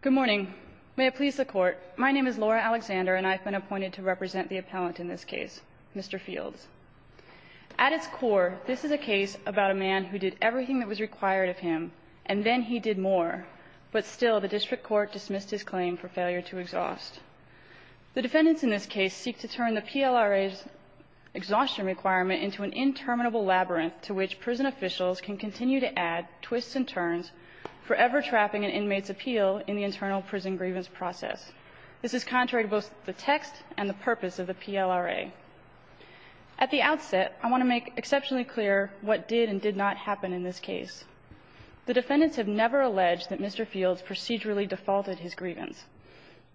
Good morning. May it please the Court. My name is Laura Alexander, and I've been appointed to represent the appellant in this case, Mr. Fields. At its core, this is a case about a man who did everything that was required of him, and then he did more. But still, the District Court dismissed his claim for failure to exhaust. The defendants in this case seek to turn the PLRA's exhaustion requirement into an interminable labyrinth to which prison officials can continue to add twists and turns, forever trapping an inmate's appeal in the internal prison grievance process. This is contrary to both the text and the purpose of the PLRA. At the outset, I want to make exceptionally clear what did and did not happen in this case. The defendants have never alleged that Mr. Fields procedurally defaulted his grievance.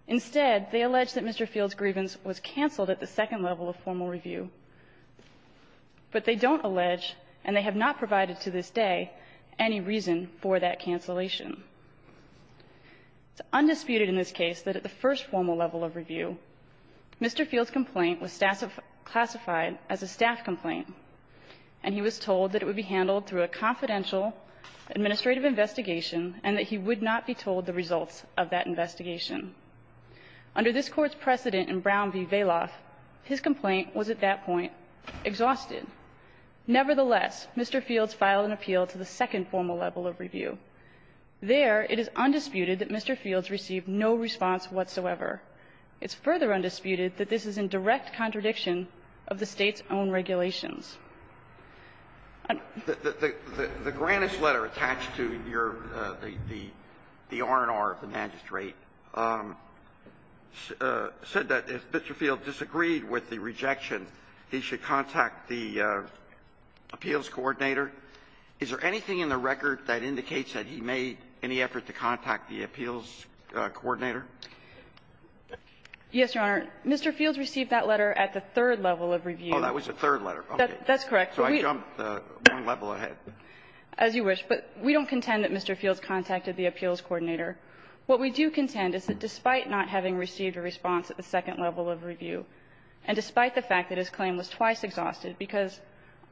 Instead, they allege that Mr. Fields' grievance was canceled at the second level of formal review. But they don't allege, and they have not provided to this day, any reason for that cancellation. It's undisputed in this case that at the first formal level of review, Mr. Fields' complaint was classified as a staff complaint, and he was told that it would be handled through a confidential administrative investigation and that he would not be told the results of that investigation. Under this Court's precedent in Brown v. Vailoff, his complaint was at that point exhausted. Nevertheless, Mr. Fields filed an appeal to the second formal level of review. There, it is undisputed that Mr. Fields received no response whatsoever. It's further undisputed that this is in direct contradiction of the State's own regulations. The Grannis letter attached to your the R&R of the magistrate said that if Mr. Fields disagreed with the rejection, he should contact the appeals coordinator. Is there anything in the record that indicates that he made any effort to contact the appeals coordinator? Yes, Your Honor. Mr. Fields received that letter at the third level of review. Oh, that was the third letter. That's correct. So I jumped one level ahead. As you wish. But we don't contend that Mr. Fields contacted the appeals coordinator. What we do contend is that despite not having received a response at the second level of review, and despite the fact that his claim was twice exhausted, because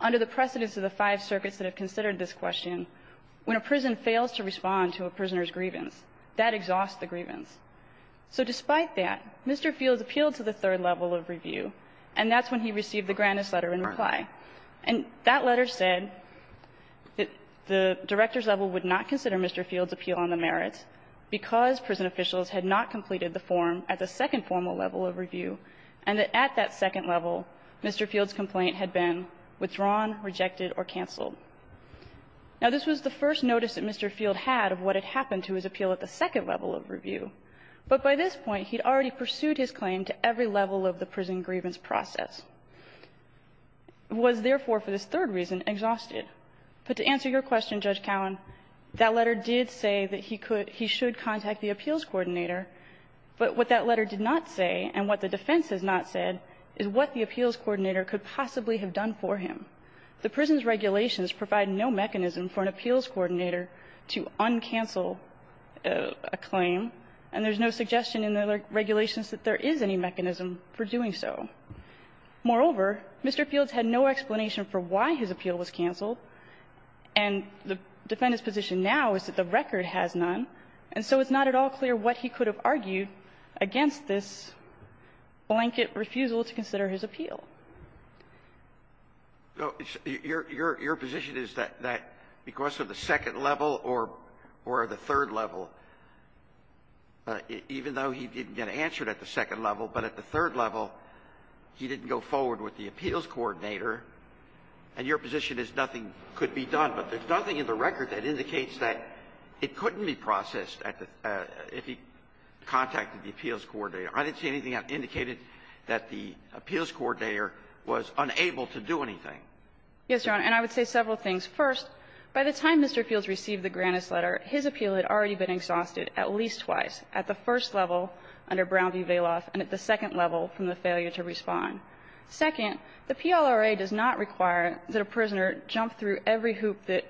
under the precedence of the five circuits that have considered this question, when a prison fails to respond to a prisoner's grievance, that exhausts the grievance. So despite that, Mr. Fields appealed to the third level of review, and that's when he received the Granis letter in reply. And that letter said that the director's level would not consider Mr. Fields' appeal on the merits because prison officials had not completed the form at the second formal level of review, and that at that second level, Mr. Fields' complaint had been withdrawn, rejected, or canceled. Now, this was the first notice that Mr. Fields had of what had happened to his appeal at the second level of review. But by this point, he'd already pursued his claim to every level of the prison grievance process, was, therefore, for this third reason, exhausted. But to answer your question, Judge Cowan, that letter did say that he could he should contact the appeals coordinator, but what that letter did not say and what the defense has not said is what the appeals coordinator could possibly have done for him. The prison's regulations provide no mechanism for an appeals coordinator to uncancel a claim, and there's no suggestion in the regulations that there is any Moreover, Mr. Fields had no explanation for why his appeal was canceled, and the defendant's position now is that the record has none, and so it's not at all clear what he could have argued against this blanket refusal to consider his appeal. Your position is that because of the second level or the third level, even though he didn't get answered at the second level, but at the third level, he didn't go forward with the appeals coordinator, and your position is nothing could be done, but there's nothing in the record that indicates that it couldn't be processed if he contacted the appeals coordinator. I didn't see anything that indicated that the appeals coordinator was unable to do anything. Yes, Your Honor, and I would say several things. First, by the time Mr. Fields received the Grannis letter, his appeal had already been exhausted at least twice, at the first level under Brown v. Vailoff and at the second level from the failure to respond. Second, the PLRA does not require that a prisoner jump through every hoop that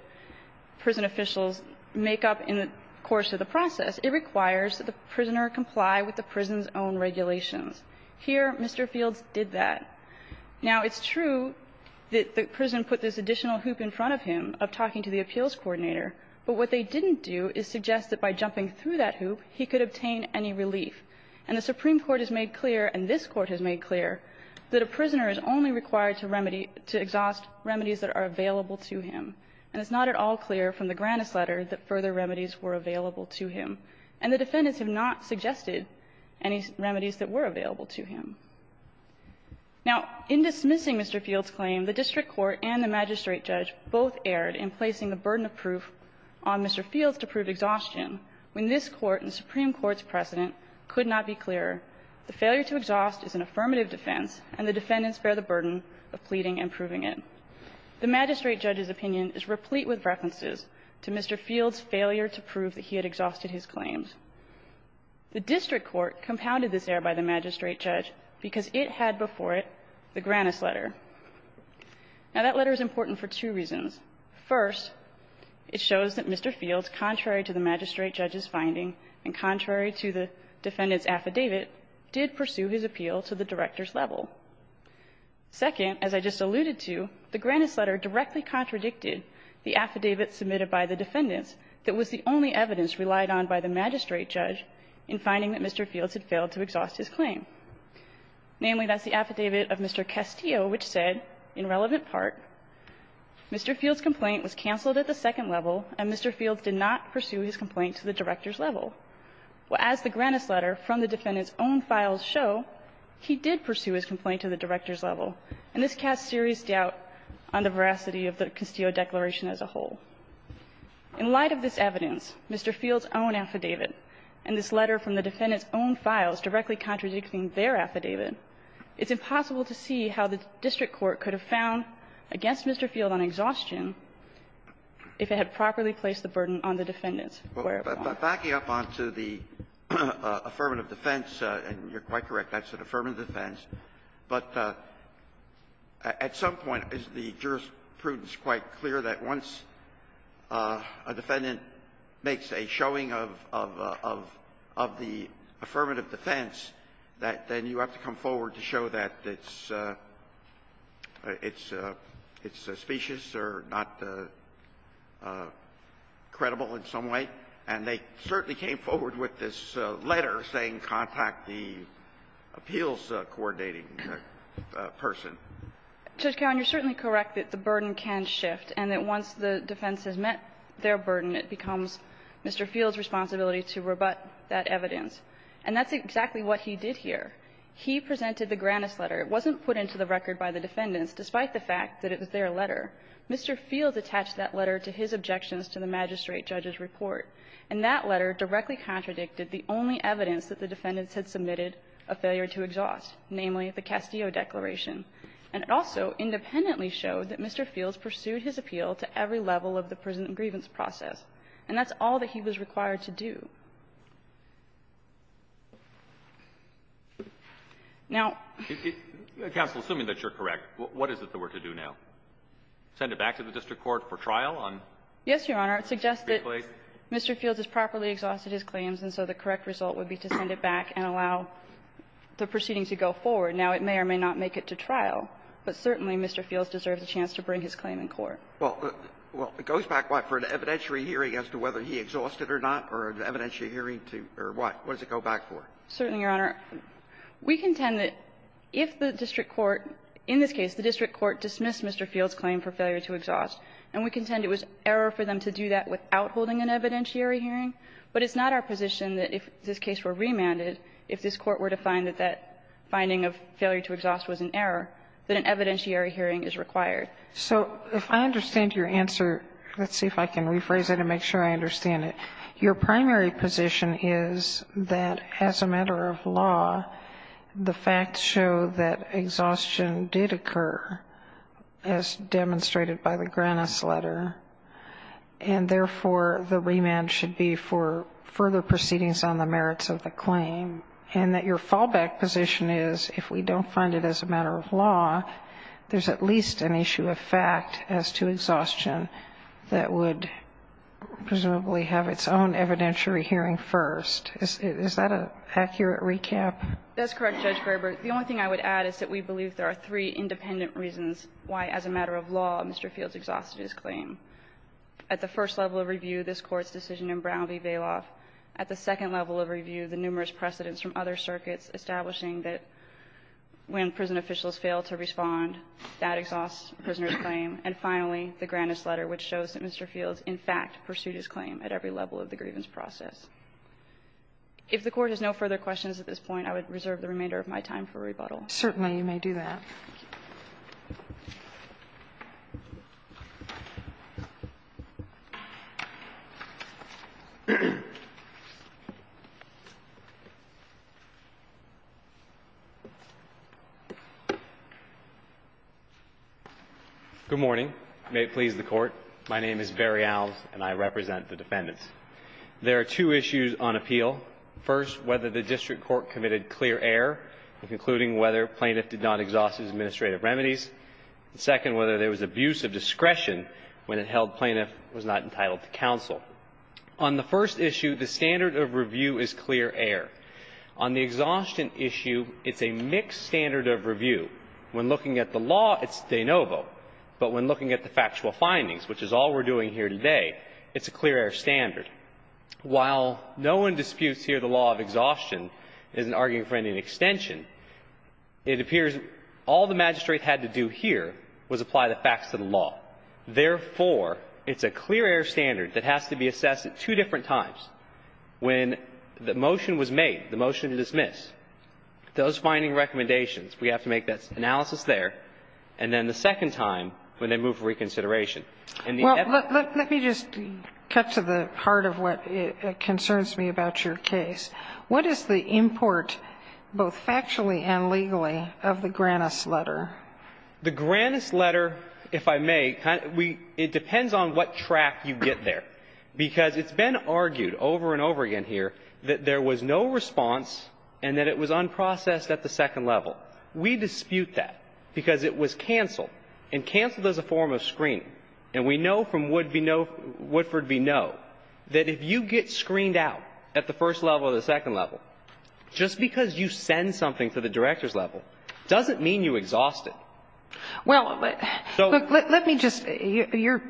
prison officials make up in the course of the process. It requires that the prisoner comply with the prison's own regulations. Here, Mr. Fields did that. Now, it's true that the prison put this additional hoop in front of him of talking to the appeals coordinator, but what they didn't do is suggest that by jumping through that hoop, he could obtain any relief. And the Supreme Court has made clear, and this Court has made clear, that a prisoner is only required to remedy to exhaust remedies that are available to him, and it's not at all clear from the Grannis letter that further remedies were available to him, and the defendants have not suggested any remedies that were available to him. Now, in dismissing Mr. Fields' claim, the district court and the magistrate judge both erred in placing the burden of proof on Mr. Fields to prove exhaustion when this Court and the Supreme Court's precedent could not be clearer. The failure to exhaust is an affirmative defense, and the defendants bear the burden of pleading and proving it. The magistrate judge's opinion is replete with references to Mr. Fields' failure to prove that he had exhausted his claims. The district court compounded this error by the magistrate judge because it had before it the Grannis letter. Now, that letter is important for two reasons. First, it shows that Mr. Fields, contrary to the magistrate judge's finding and contrary to the defendant's affidavit, did pursue his appeal to the director's level. Second, as I just alluded to, the Grannis letter directly contradicted the affidavit submitted by the defendants that was the only evidence relied on by the magistrate judge in finding that Mr. Fields had failed to exhaust his claim. Namely, that's the affidavit of Mr. Castillo which said, in relevant part, Mr. Fields' complaint was canceled at the second level and Mr. Fields did not pursue his complaint to the director's level. Well, as the Grannis letter from the defendant's own files show, he did pursue his complaint to the director's level, and this casts serious doubt on the veracity of the Castillo declaration as a whole. In light of this evidence, Mr. Fields' own affidavit, and this letter from the defendant's own files directly contradicting their affidavit, it's impossible to see how the district court could have found against Mr. Fields an exhaustion if it had properly placed the burden on the defendants. Backing up on to the affirmative defense, and you're quite correct, that's an affirmative defense, but at some point, is the jurisprudence quite clear that once a defendant makes a showing of the affirmative defense, that then you have to come forward to show that it's suspicious or not credible in some way? And they certainly came forward with this letter saying contact the appeals coordinating person. Judge Cowen, you're certainly correct that the burden can shift and that once the defense has met their burden, it becomes Mr. Fields' responsibility to rebut that evidence. And that's exactly what he did here. He presented the Grannis letter. It wasn't put into the record by the defendants, despite the fact that it was their letter. Mr. Fields attached that letter to his objections to the magistrate judge's report. And that letter directly contradicted the only evidence that the defendants had submitted a failure to exhaust, namely the Castillo Declaration. And it also independently showed that Mr. Fields pursued his appeal to every level of the prison and grievance process. And that's all that he was required to do. Now — Counsel, assuming that you're correct, what is it that we're to do now? Send it back to the district court for trial on — Yes, Your Honor. It suggests that Mr. Fields has properly exhausted his claims, and so the correct result would be to send it back and allow the proceeding to go forward. Now, it may or may not make it to trial, but certainly Mr. Fields deserves a chance to bring his claim in court. Well, it goes back, what, for an evidentiary hearing as to whether he exhausted or not, or an evidentiary hearing to — or what? What does it go back for? Certainly, Your Honor. We contend that if the district court — in this case, the district court dismissed Mr. Fields' claim for failure to exhaust, and we contend it was error for them to do that without holding an evidentiary hearing, but it's not our position that if this case were remanded, if this court were to find that that finding of failure to exhaust was an error, that an evidentiary hearing is required. So if I understand your answer, let's see if I can rephrase it and make sure I understand it. Your primary position is that as a matter of law, the facts show that exhaustion did occur, as demonstrated by the Grannis letter, and therefore, the remand should be for further proceedings on the merits of the claim, and that your fallback position is if we don't find it as a matter of law, there's at least an issue of fact as to exhaustion that would presumably have its own evidentiary hearing first. Is that an accurate recap? That's correct, Judge Graber. The only thing I would add is that we believe there are three independent reasons why, as a matter of law, Mr. Fields exhausted his claim. At the first level of review, this Court's decision in Brown v. Vailoff. At the second level of review, the numerous precedents from other circuits establishing that when prison officials fail to respond, that exhausts a prisoner's claim. And finally, the Grannis letter, which shows that Mr. Fields in fact pursued his claim at every level of the grievance process. If the Court has no further questions at this point, I would reserve the remainder of my time for rebuttal. Certainly, you may do that. Good morning. May it please the Court. My name is Barry Alves, and I represent the defendants. There are two issues on appeal. First, whether the district court committed clear error in concluding whether plaintiff did not exhaust his administrative remedies. Second, whether there was abuse of discretion when it held plaintiff was not entitled to counsel. On the first issue, the standard of review is clear error. On the exhaustion issue, it's a mixed standard of review. When looking at the law, it's de novo. But when looking at the factual findings, which is all we're doing here today, it's a clear error standard. While no one disputes here the law of exhaustion as an argument for any extension, it appears all the magistrate had to do here was apply the facts to the law. Therefore, it's a clear error standard that has to be assessed at two different times. When the motion was made, the motion to dismiss, those finding recommendations, we have to make that analysis there, and then the second time, when they move for reconsideration. And the inevitable ---- Sotomayor, let me just cut to the heart of what concerns me about your case. What is the import, both factually and legally, of the Granis letter? The Granis letter, if I may, kind of we ---- it depends on what track you get there. Because it's been argued over and over again here that there was no response and that it was unprocessed at the second level. We dispute that because it was canceled, and canceled as a form of screening. And we know from Woodford v. Noe that if you get screened out at the first level or the second level, just because you send something to the director's level doesn't mean you exhaust it. Well, let me just ----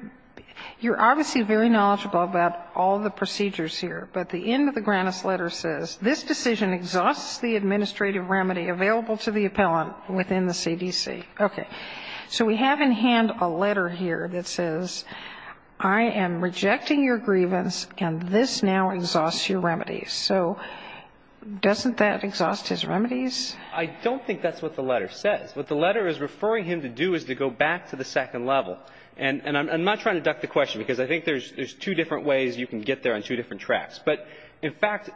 you're obviously very knowledgeable about all the procedures here, but the end of the Granis letter says, This decision exhausts the administrative remedy available to the appellant within the CDC. Okay. So we have in hand a letter here that says, I am rejecting your grievance, and this now exhausts your remedies. So doesn't that exhaust his remedies? I don't think that's what the letter says. What the letter is referring him to do is to go back to the second level. And I'm not trying to duck the question, because I think there's two different ways you can get there on two different tracks. But in fact,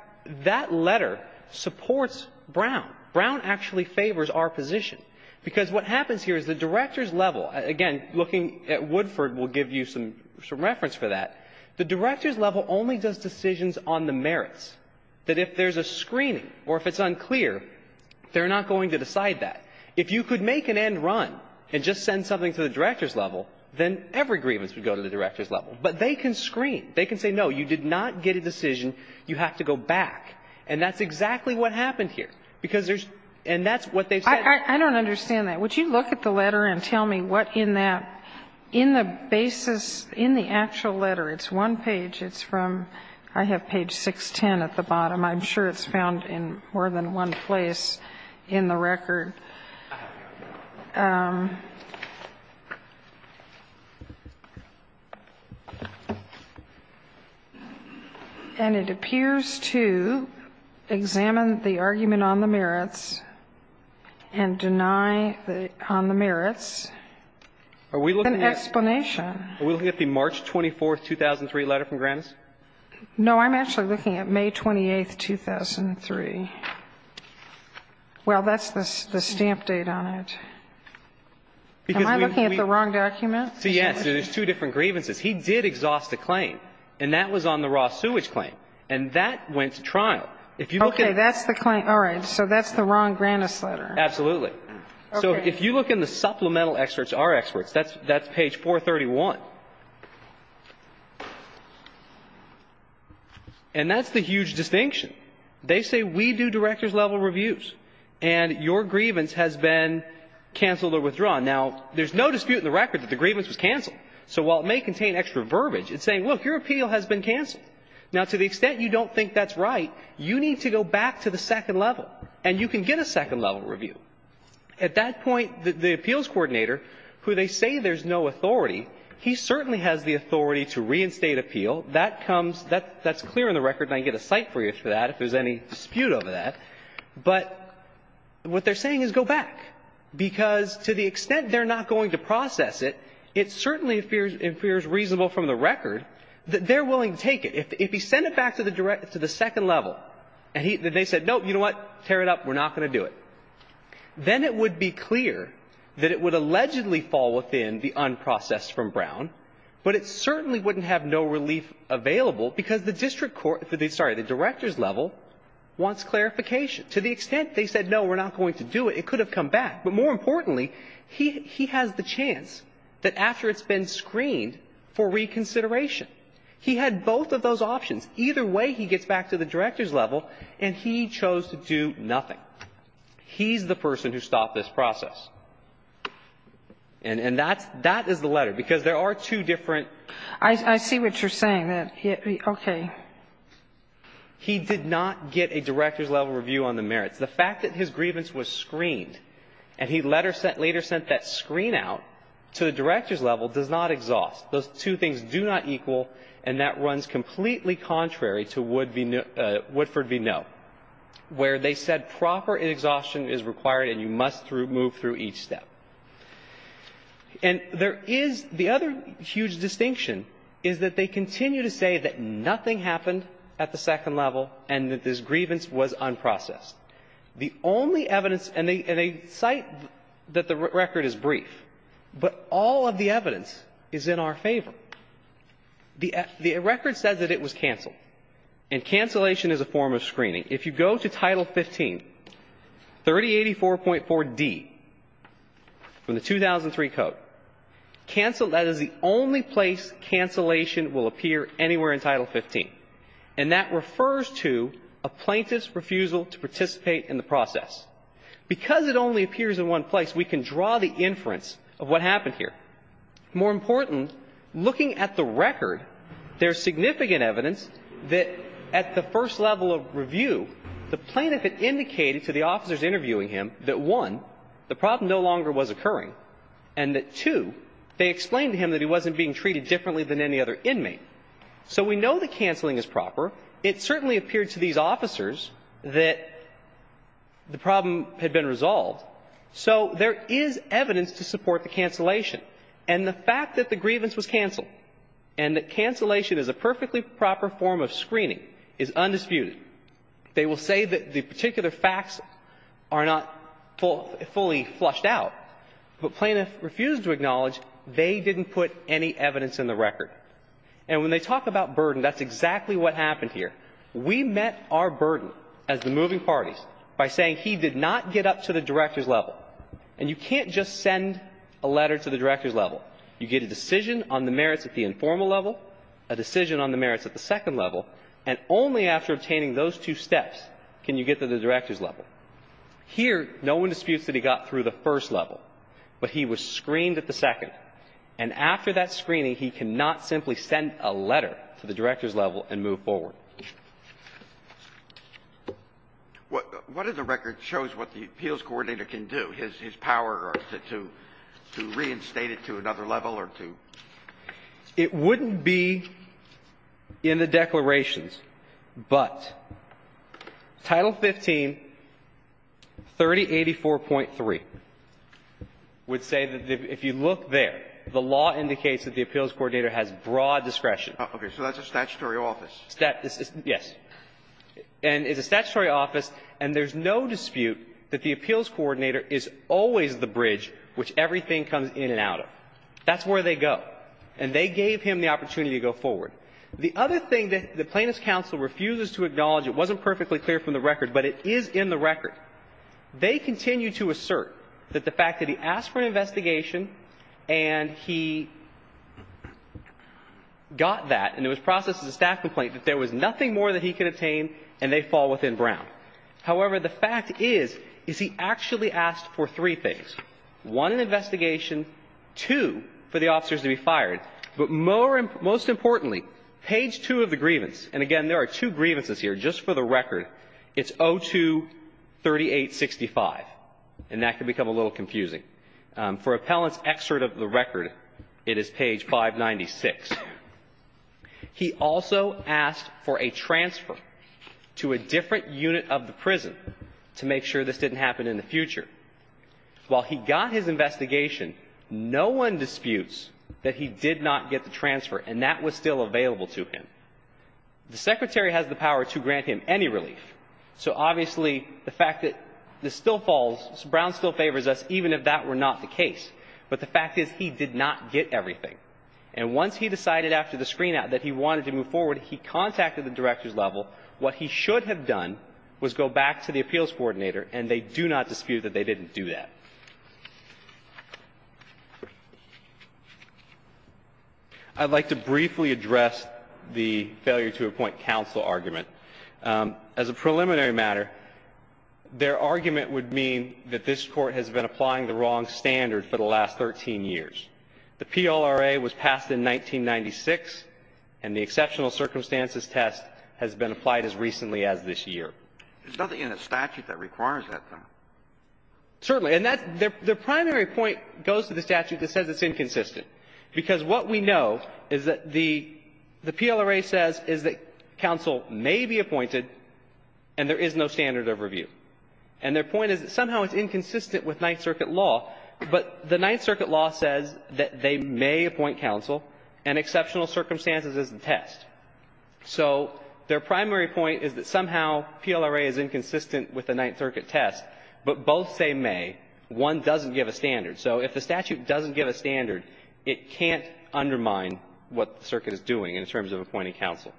that letter supports Brown. Brown actually favors our position. Because what happens here is the director's level. Again, looking at Woodford will give you some reference for that. The director's level only does decisions on the merits, that if there's a screening or if it's unclear, they're not going to decide that. If you could make an end run and just send something to the director's level, then every grievance would go to the director's level. But they can screen. They can say, no, you did not get a decision. You have to go back. And that's exactly what happened here. Because there's ---- and that's what they've said. I don't understand that. Would you look at the letter and tell me what in that ---- in the basis, in the actual letter, it's one page, it's from ---- I have page 610 at the bottom. I'm sure it's found in more than one place in the record. And it appears to examine the argument on the merits and to say that there's no reason to go back and deny on the merits an explanation. Are we looking at the March 24, 2003, letter from Grannis? No. I'm actually looking at May 28, 2003. Well, that's the stamp date on it. Because we ---- Am I looking at the wrong document? Yes. There's two different grievances. He did exhaust a claim. And that was on the raw sewage claim. And that went to trial. If you look at ---- That's the claim. All right. So that's the wrong Grannis letter. Absolutely. Okay. So if you look in the supplemental experts, our experts, that's page 431. And that's the huge distinction. They say we do director's level reviews. And your grievance has been canceled or withdrawn. Now, there's no dispute in the record that the grievance was canceled. So while it may contain extra verbiage, it's saying, look, your appeal has been canceled. Now, to the extent you don't think that's right, you need to go back to the second level. And you can get a second-level review. At that point, the appeals coordinator, who they say there's no authority, he certainly has the authority to reinstate appeal. That comes ---- that's clear in the record. And I can get a cite for you for that if there's any dispute over that. But what they're saying is go back, because to the extent they're not going to process it, it certainly appears reasonable from the record that they're willing to take it. If he sent it back to the second level and they said, no, you know what, tear it up, we're not going to do it, then it would be clear that it would allegedly fall within the unprocessed from Brown, but it certainly wouldn't have no relief available because the district court ---- sorry, the director's level wants clarification. To the extent they said, no, we're not going to do it, it could have come back. But more importantly, he has the chance that after it's been screened for reconsideration he had both of those options. Either way, he gets back to the director's level and he chose to do nothing. He's the person who stopped this process. And that is the letter, because there are two different ---- I see what you're saying. Okay. He did not get a director's level review on the merits. The fact that his grievance was screened and he later sent that screen out to the director's level does not exhaust. Those two things do not equal, and that runs completely contrary to Woodford v. Noe, where they said proper exhaustion is required and you must move through each step. And there is the other huge distinction is that they continue to say that nothing happened at the second level and that this grievance was unprocessed. The only evidence, and they cite that the record is brief, but all of the evidence is in our favor. The record says that it was canceled. And cancellation is a form of screening. If you go to Title 15, 3084.4d from the 2003 Code, canceled, that is the only place cancellation will appear anywhere in Title 15. And that refers to a plaintiff's refusal to participate in the process. Because it only appears in one place, we can draw the inference of what happened here. More important, looking at the record, there's significant evidence that at the first level of review, the plaintiff had indicated to the officers interviewing him that, one, the problem no longer was occurring, and that, two, they explained to him that he wasn't being treated differently than any other inmate. So we know that canceling is proper. It certainly appeared to these officers that the problem had been resolved. So there is evidence to support the cancellation. And the fact that the grievance was canceled and that cancellation is a perfectly proper form of screening is undisputed. They will say that the particular facts are not fully flushed out, but plaintiffs refused to acknowledge they didn't put any evidence in the record. And when they talk about burden, that's exactly what happened here. We met our burden as the moving parties by saying he did not get up to the director's level. And you can't just send a letter to the director's level. You get a decision on the merits at the informal level, a decision on the merits at the second level, and only after obtaining those two steps can you get to the director's level. Here, no one disputes that he got through the first level, but he was screened at the second. And after that screening, he cannot simply send a letter to the director's level and move forward. What does the record show is what the appeals coordinator can do? His power to reinstate it to another level or to? It wouldn't be in the declarations, but Title 15-3084.3 would say that if you look there, the law indicates that the appeals coordinator has broad discretion. Okay. So that's a statutory office. Yes. And it's a statutory office, and there's no dispute that the appeals coordinator is always the bridge which everything comes in and out of. That's where they go. And they gave him the opportunity to go forward. The other thing that the Plaintiff's counsel refuses to acknowledge, it wasn't perfectly clear from the record, but it is in the record. They continue to assert that the fact that he asked for an investigation and he got that, and it was processed as a staff complaint, that there was nothing more that he could obtain, and they fall within Brown. However, the fact is, is he actually asked for three things, one, an investigation, two, for the officers to be fired. But most importantly, page two of the grievance, and again, there are two grievances here, just for the record. It's 02-3865, and that can become a little confusing. For appellant's excerpt of the record, it is page 596. He also asked for a transfer to a different unit of the prison to make sure this didn't happen in the future. While he got his investigation, no one disputes that he did not get the transfer, and that was still available to him. The Secretary has the power to grant him any relief. So obviously, the fact that this still falls, Brown still favors us, even if that were not the case. But the fact is, he did not get everything. And once he decided after the screen-out that he wanted to move forward, he contacted the director's level. What he should have done was go back to the appeals coordinator, and they do not dispute that they didn't do that. I'd like to briefly address the failure to appoint counsel argument. As a preliminary matter, their argument would mean that this Court has been applying the wrong standard for the last 13 years. The PLRA was passed in 1996, and the exceptional circumstances test has been applied as recently as this year. There's nothing in the statute that requires that, though. Certainly. And that's the primary point goes to the statute that says it's inconsistent, because what we know is that the PLRA says is that counsel may be appointed and there is no standard of review. And their point is that somehow it's inconsistent with Ninth Circuit law. But the Ninth Circuit law says that they may appoint counsel and exceptional circumstances is the test. So their primary point is that somehow PLRA is inconsistent with the Ninth Circuit test, but both say may. One doesn't give a standard. So if the statute doesn't give a standard, it can't undermine what the circuit is doing in terms of appointing counsel.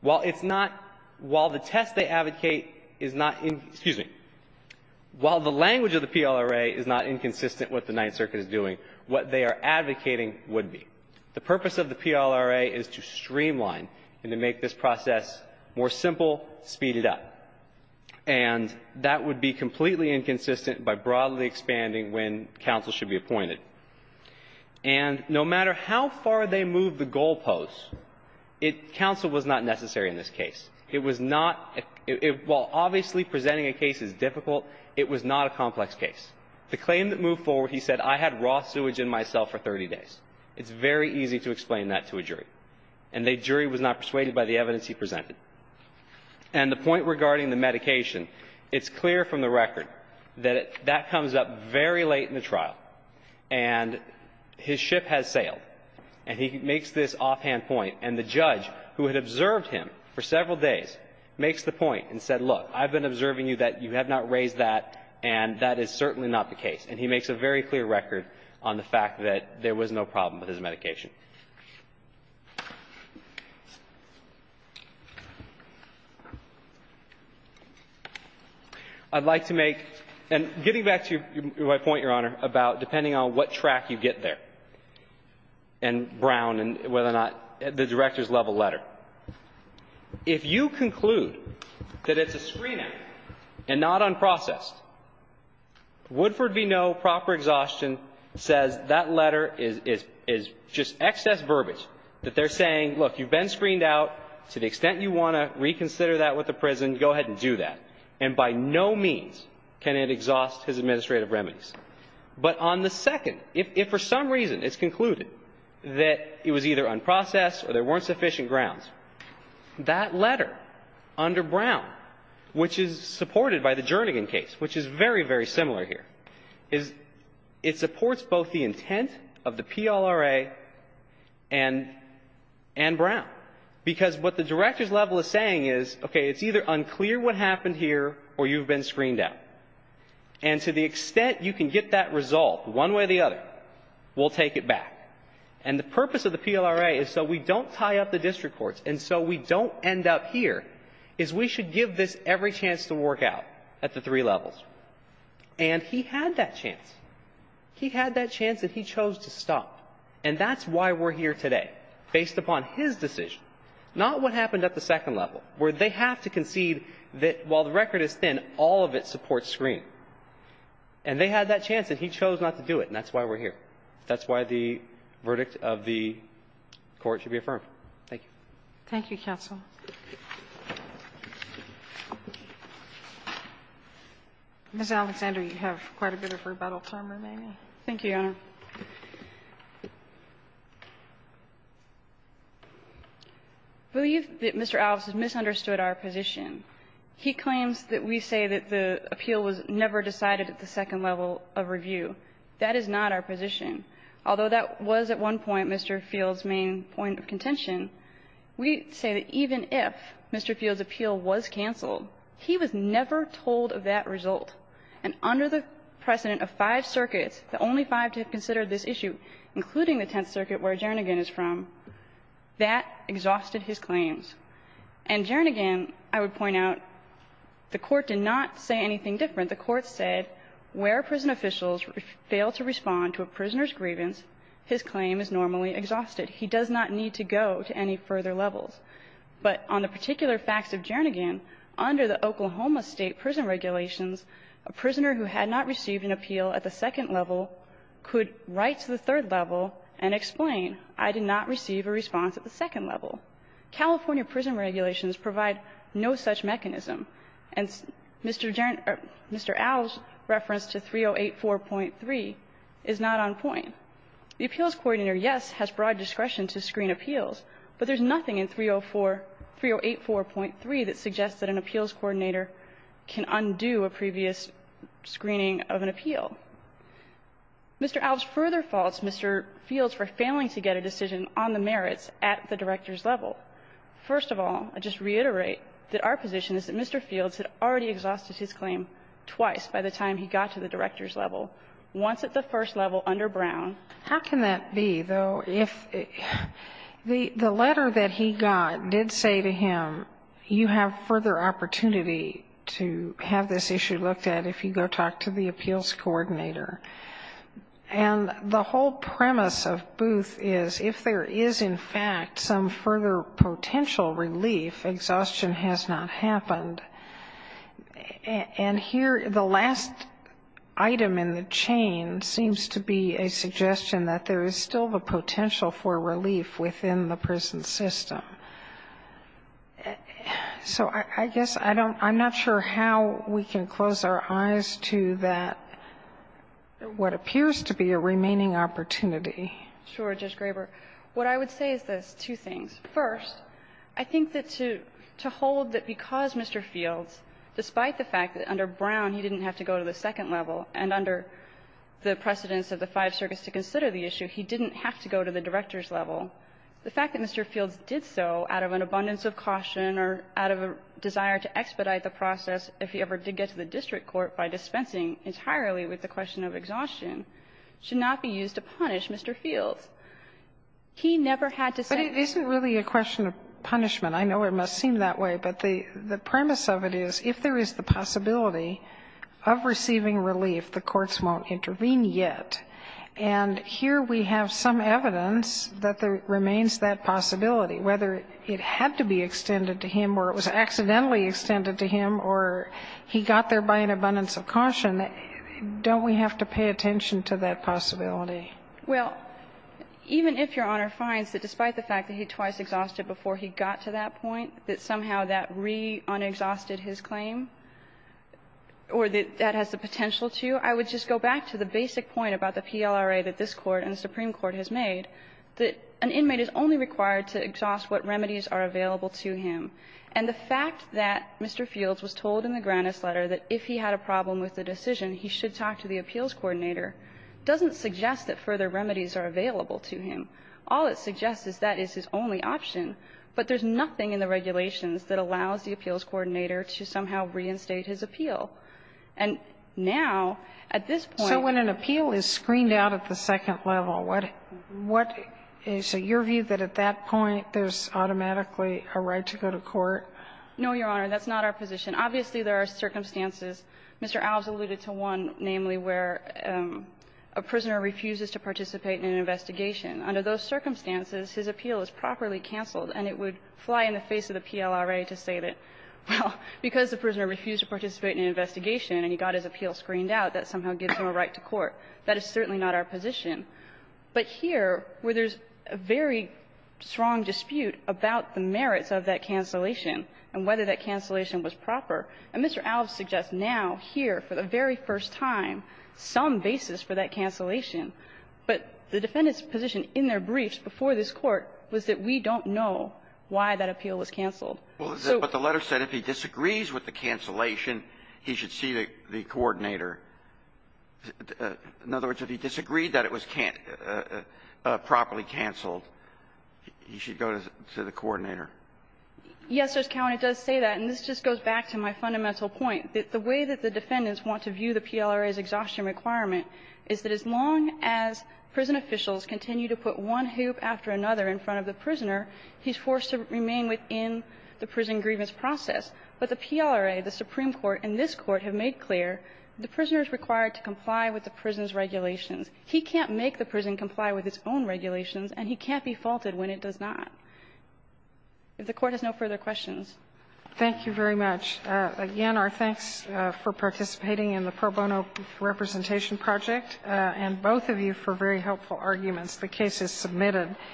While it's not – while the test they advocate is not – excuse me – while the language of the PLRA is not inconsistent with what the Ninth Circuit is doing, what they are advocating would be. The purpose of the PLRA is to streamline and to make this process more simple, speed it up. And that would be completely inconsistent by broadly expanding when counsel should be appointed. And no matter how far they move the goalposts, it – counsel was not necessary in this case. It was not – while obviously presenting a case is difficult, it was not a complex case. The claim that moved forward, he said, I had raw sewage in my cell for 30 days. It's very easy to explain that to a jury. And the jury was not persuaded by the evidence he presented. And the point regarding the medication, it's clear from the record that it – that comes up very late in the trial. And his ship has sailed. And he makes this offhand point. And the judge, who had observed him for several days, makes the point and said, look, I've been observing you that you have not raised that, and that is certainly not the case. And he makes a very clear record on the fact that there was no problem with his medication. I'd like to make – and getting back to my point, Your Honor, about depending on what track you get there, and Brown and whether or not – the director's level letter. If you conclude that it's a screen act and not unprocessed, Woodford v. Ngo, proper exhaustion, says that letter is – is just empty. It's an excess verbiage that they're saying, look, you've been screened out. To the extent you want to reconsider that with the prison, go ahead and do that. And by no means can it exhaust his administrative remedies. But on the second, if for some reason it's concluded that it was either unprocessed or there weren't sufficient grounds, that letter under Brown, which is supported by the Jernigan case, which is very, very similar here, is – it supports both the Jernigan case and – and Brown, because what the director's level is saying is, okay, it's either unclear what happened here or you've been screened out. And to the extent you can get that resolved one way or the other, we'll take it back. And the purpose of the PLRA is so we don't tie up the district courts and so we don't end up here, is we should give this every chance to work out at the three levels. And he had that chance. He had that chance, and he chose to stop. And that's why we're here today, based upon his decision, not what happened at the second level, where they have to concede that, while the record is thin, all of it supports screening. And they had that chance, and he chose not to do it. And that's why we're here. That's why the verdict of the Court should be affirmed. Thank you. Thank you, counsel. Ms. Alexander, you have quite a bit of rebuttal time remaining. Thank you, Your Honor. I believe that Mr. Allison misunderstood our position. He claims that we say that the appeal was never decided at the second level of review. That is not our position. Although that was at one point Mr. Field's main point of contention, we say that even if Mr. Field's appeal was canceled, he was never told of that result. And under the precedent of five circuits, the only five to have considered this issue, including the Tenth Circuit where Jernigan is from, that exhausted his claims. And Jernigan, I would point out, the Court did not say anything different. The Court said where prison officials fail to respond to a prisoner's grievance, his claim is normally exhausted. He does not need to go to any further levels. But on the particular facts of Jernigan, under the Oklahoma State prison regulations, a prisoner who had not received an appeal at the second level could write to the third level and explain, I did not receive a response at the second level. California prison regulations provide no such mechanism. And Mr. Jernigan or Mr. Al's reference to 3084.3 is not on point. The appeals coordinator, yes, has broad discretion to screen appeals, but there's nothing in 304 3084.3 that suggests that an appeals coordinator can undo a previous screening of an appeal. Mr. Al's further faults, Mr. Field's, were failing to get a decision on the merits at the director's level. First of all, I just reiterate that our position is that Mr. Field's had already exhausted his claim twice by the time he got to the director's level, once at the first level under Brown. How can that be, though, if the letter that he got did say to him, you have further opportunity to have this issue looked at if you go talk to the appeals coordinator? And the whole premise of Booth is if there is, in fact, some further potential relief, exhaustion has not happened. And here, the last item in the chain seems to be a suggestion that there is still the potential for relief within the prison system. So I guess I don't – I'm not sure how we can close our eyes to that, what appears to be a remaining opportunity. Sure, Judge Graber. What I would say is this, two things. First, I think that to hold that because Mr. Field's, despite the fact that under Brown he didn't have to go to the second level and under the precedence of the Five Circuits to consider the issue, he didn't have to go to the director's level, the fact that Mr. Field's did so out of an abundance of caution or out of a desire to expedite the process if he ever did get to the district court by dispensing entirely with the question of exhaustion should not be used to punish Mr. Field's. So it's not going to be a question of punishment. I know it must seem that way, but the premise of it is if there is the possibility of receiving relief, the courts won't intervene yet. And here we have some evidence that there remains that possibility, whether it had to be extended to him or it was accidentally extended to him or he got there by an abundance of caution, don't we have to pay attention to that possibility? Well, even if Your Honor finds that despite the fact that he twice exhausted before he got to that point, that somehow that re-unexhausted his claim or that that has the potential to, I would just go back to the basic point about the PLRA that this Court and the Supreme Court has made, that an inmate is only required to exhaust what remedies are available to him. And the fact that Mr. Field's was told in the Granis letter that if he had a problem with the decision, he should talk to the appeals coordinator, doesn't suggest that further remedies are available to him. All it suggests is that is his only option, but there's nothing in the regulations that allows the appeals coordinator to somehow reinstate his appeal. And now, at this point we're going to appeal is screened out at the second level. What is your view that at that point there's automatically a right to go to court? No, Your Honor, that's not our position. Obviously, there are circumstances. Mr. Alves alluded to one, namely, where a prisoner refuses to participate in an investigation. Under those circumstances, his appeal is properly canceled, and it would fly in the face of the PLRA to say that, well, because the prisoner refused to participate in an investigation and he got his appeal screened out, that somehow gives him a right to court. That is certainly not our position. But here, where there's a very strong dispute about the merits of that cancellation and whether that cancellation was proper, and Mr. Alves suggests now, here, for the very first time, some basis for that cancellation, but the defendant's position in their briefs before this Court was that we don't know why that appeal was canceled. So the letter said if he disagrees with the cancellation, he should see the coordinator. In other words, if he disagreed that it was properly canceled, he should go to the coordinator. Yes, Your Honor, it does say that. And this just goes back to my fundamental point, that the way that the defendants want to view the PLRA's exhaustion requirement is that as long as prison officials continue to put one hoop after another in front of the prisoner, he's forced to remain within the prison grievance process. But the PLRA, the Supreme Court, and this Court have made clear the prisoner is required to comply with the prison's regulations. He can't make the prison comply with its own regulations, and he can't be faulted when it does not. If the Court has no further questions. Thank you very much. Again, our thanks for participating in the pro bono representation project, and both of you for very helpful arguments. The case is submitted.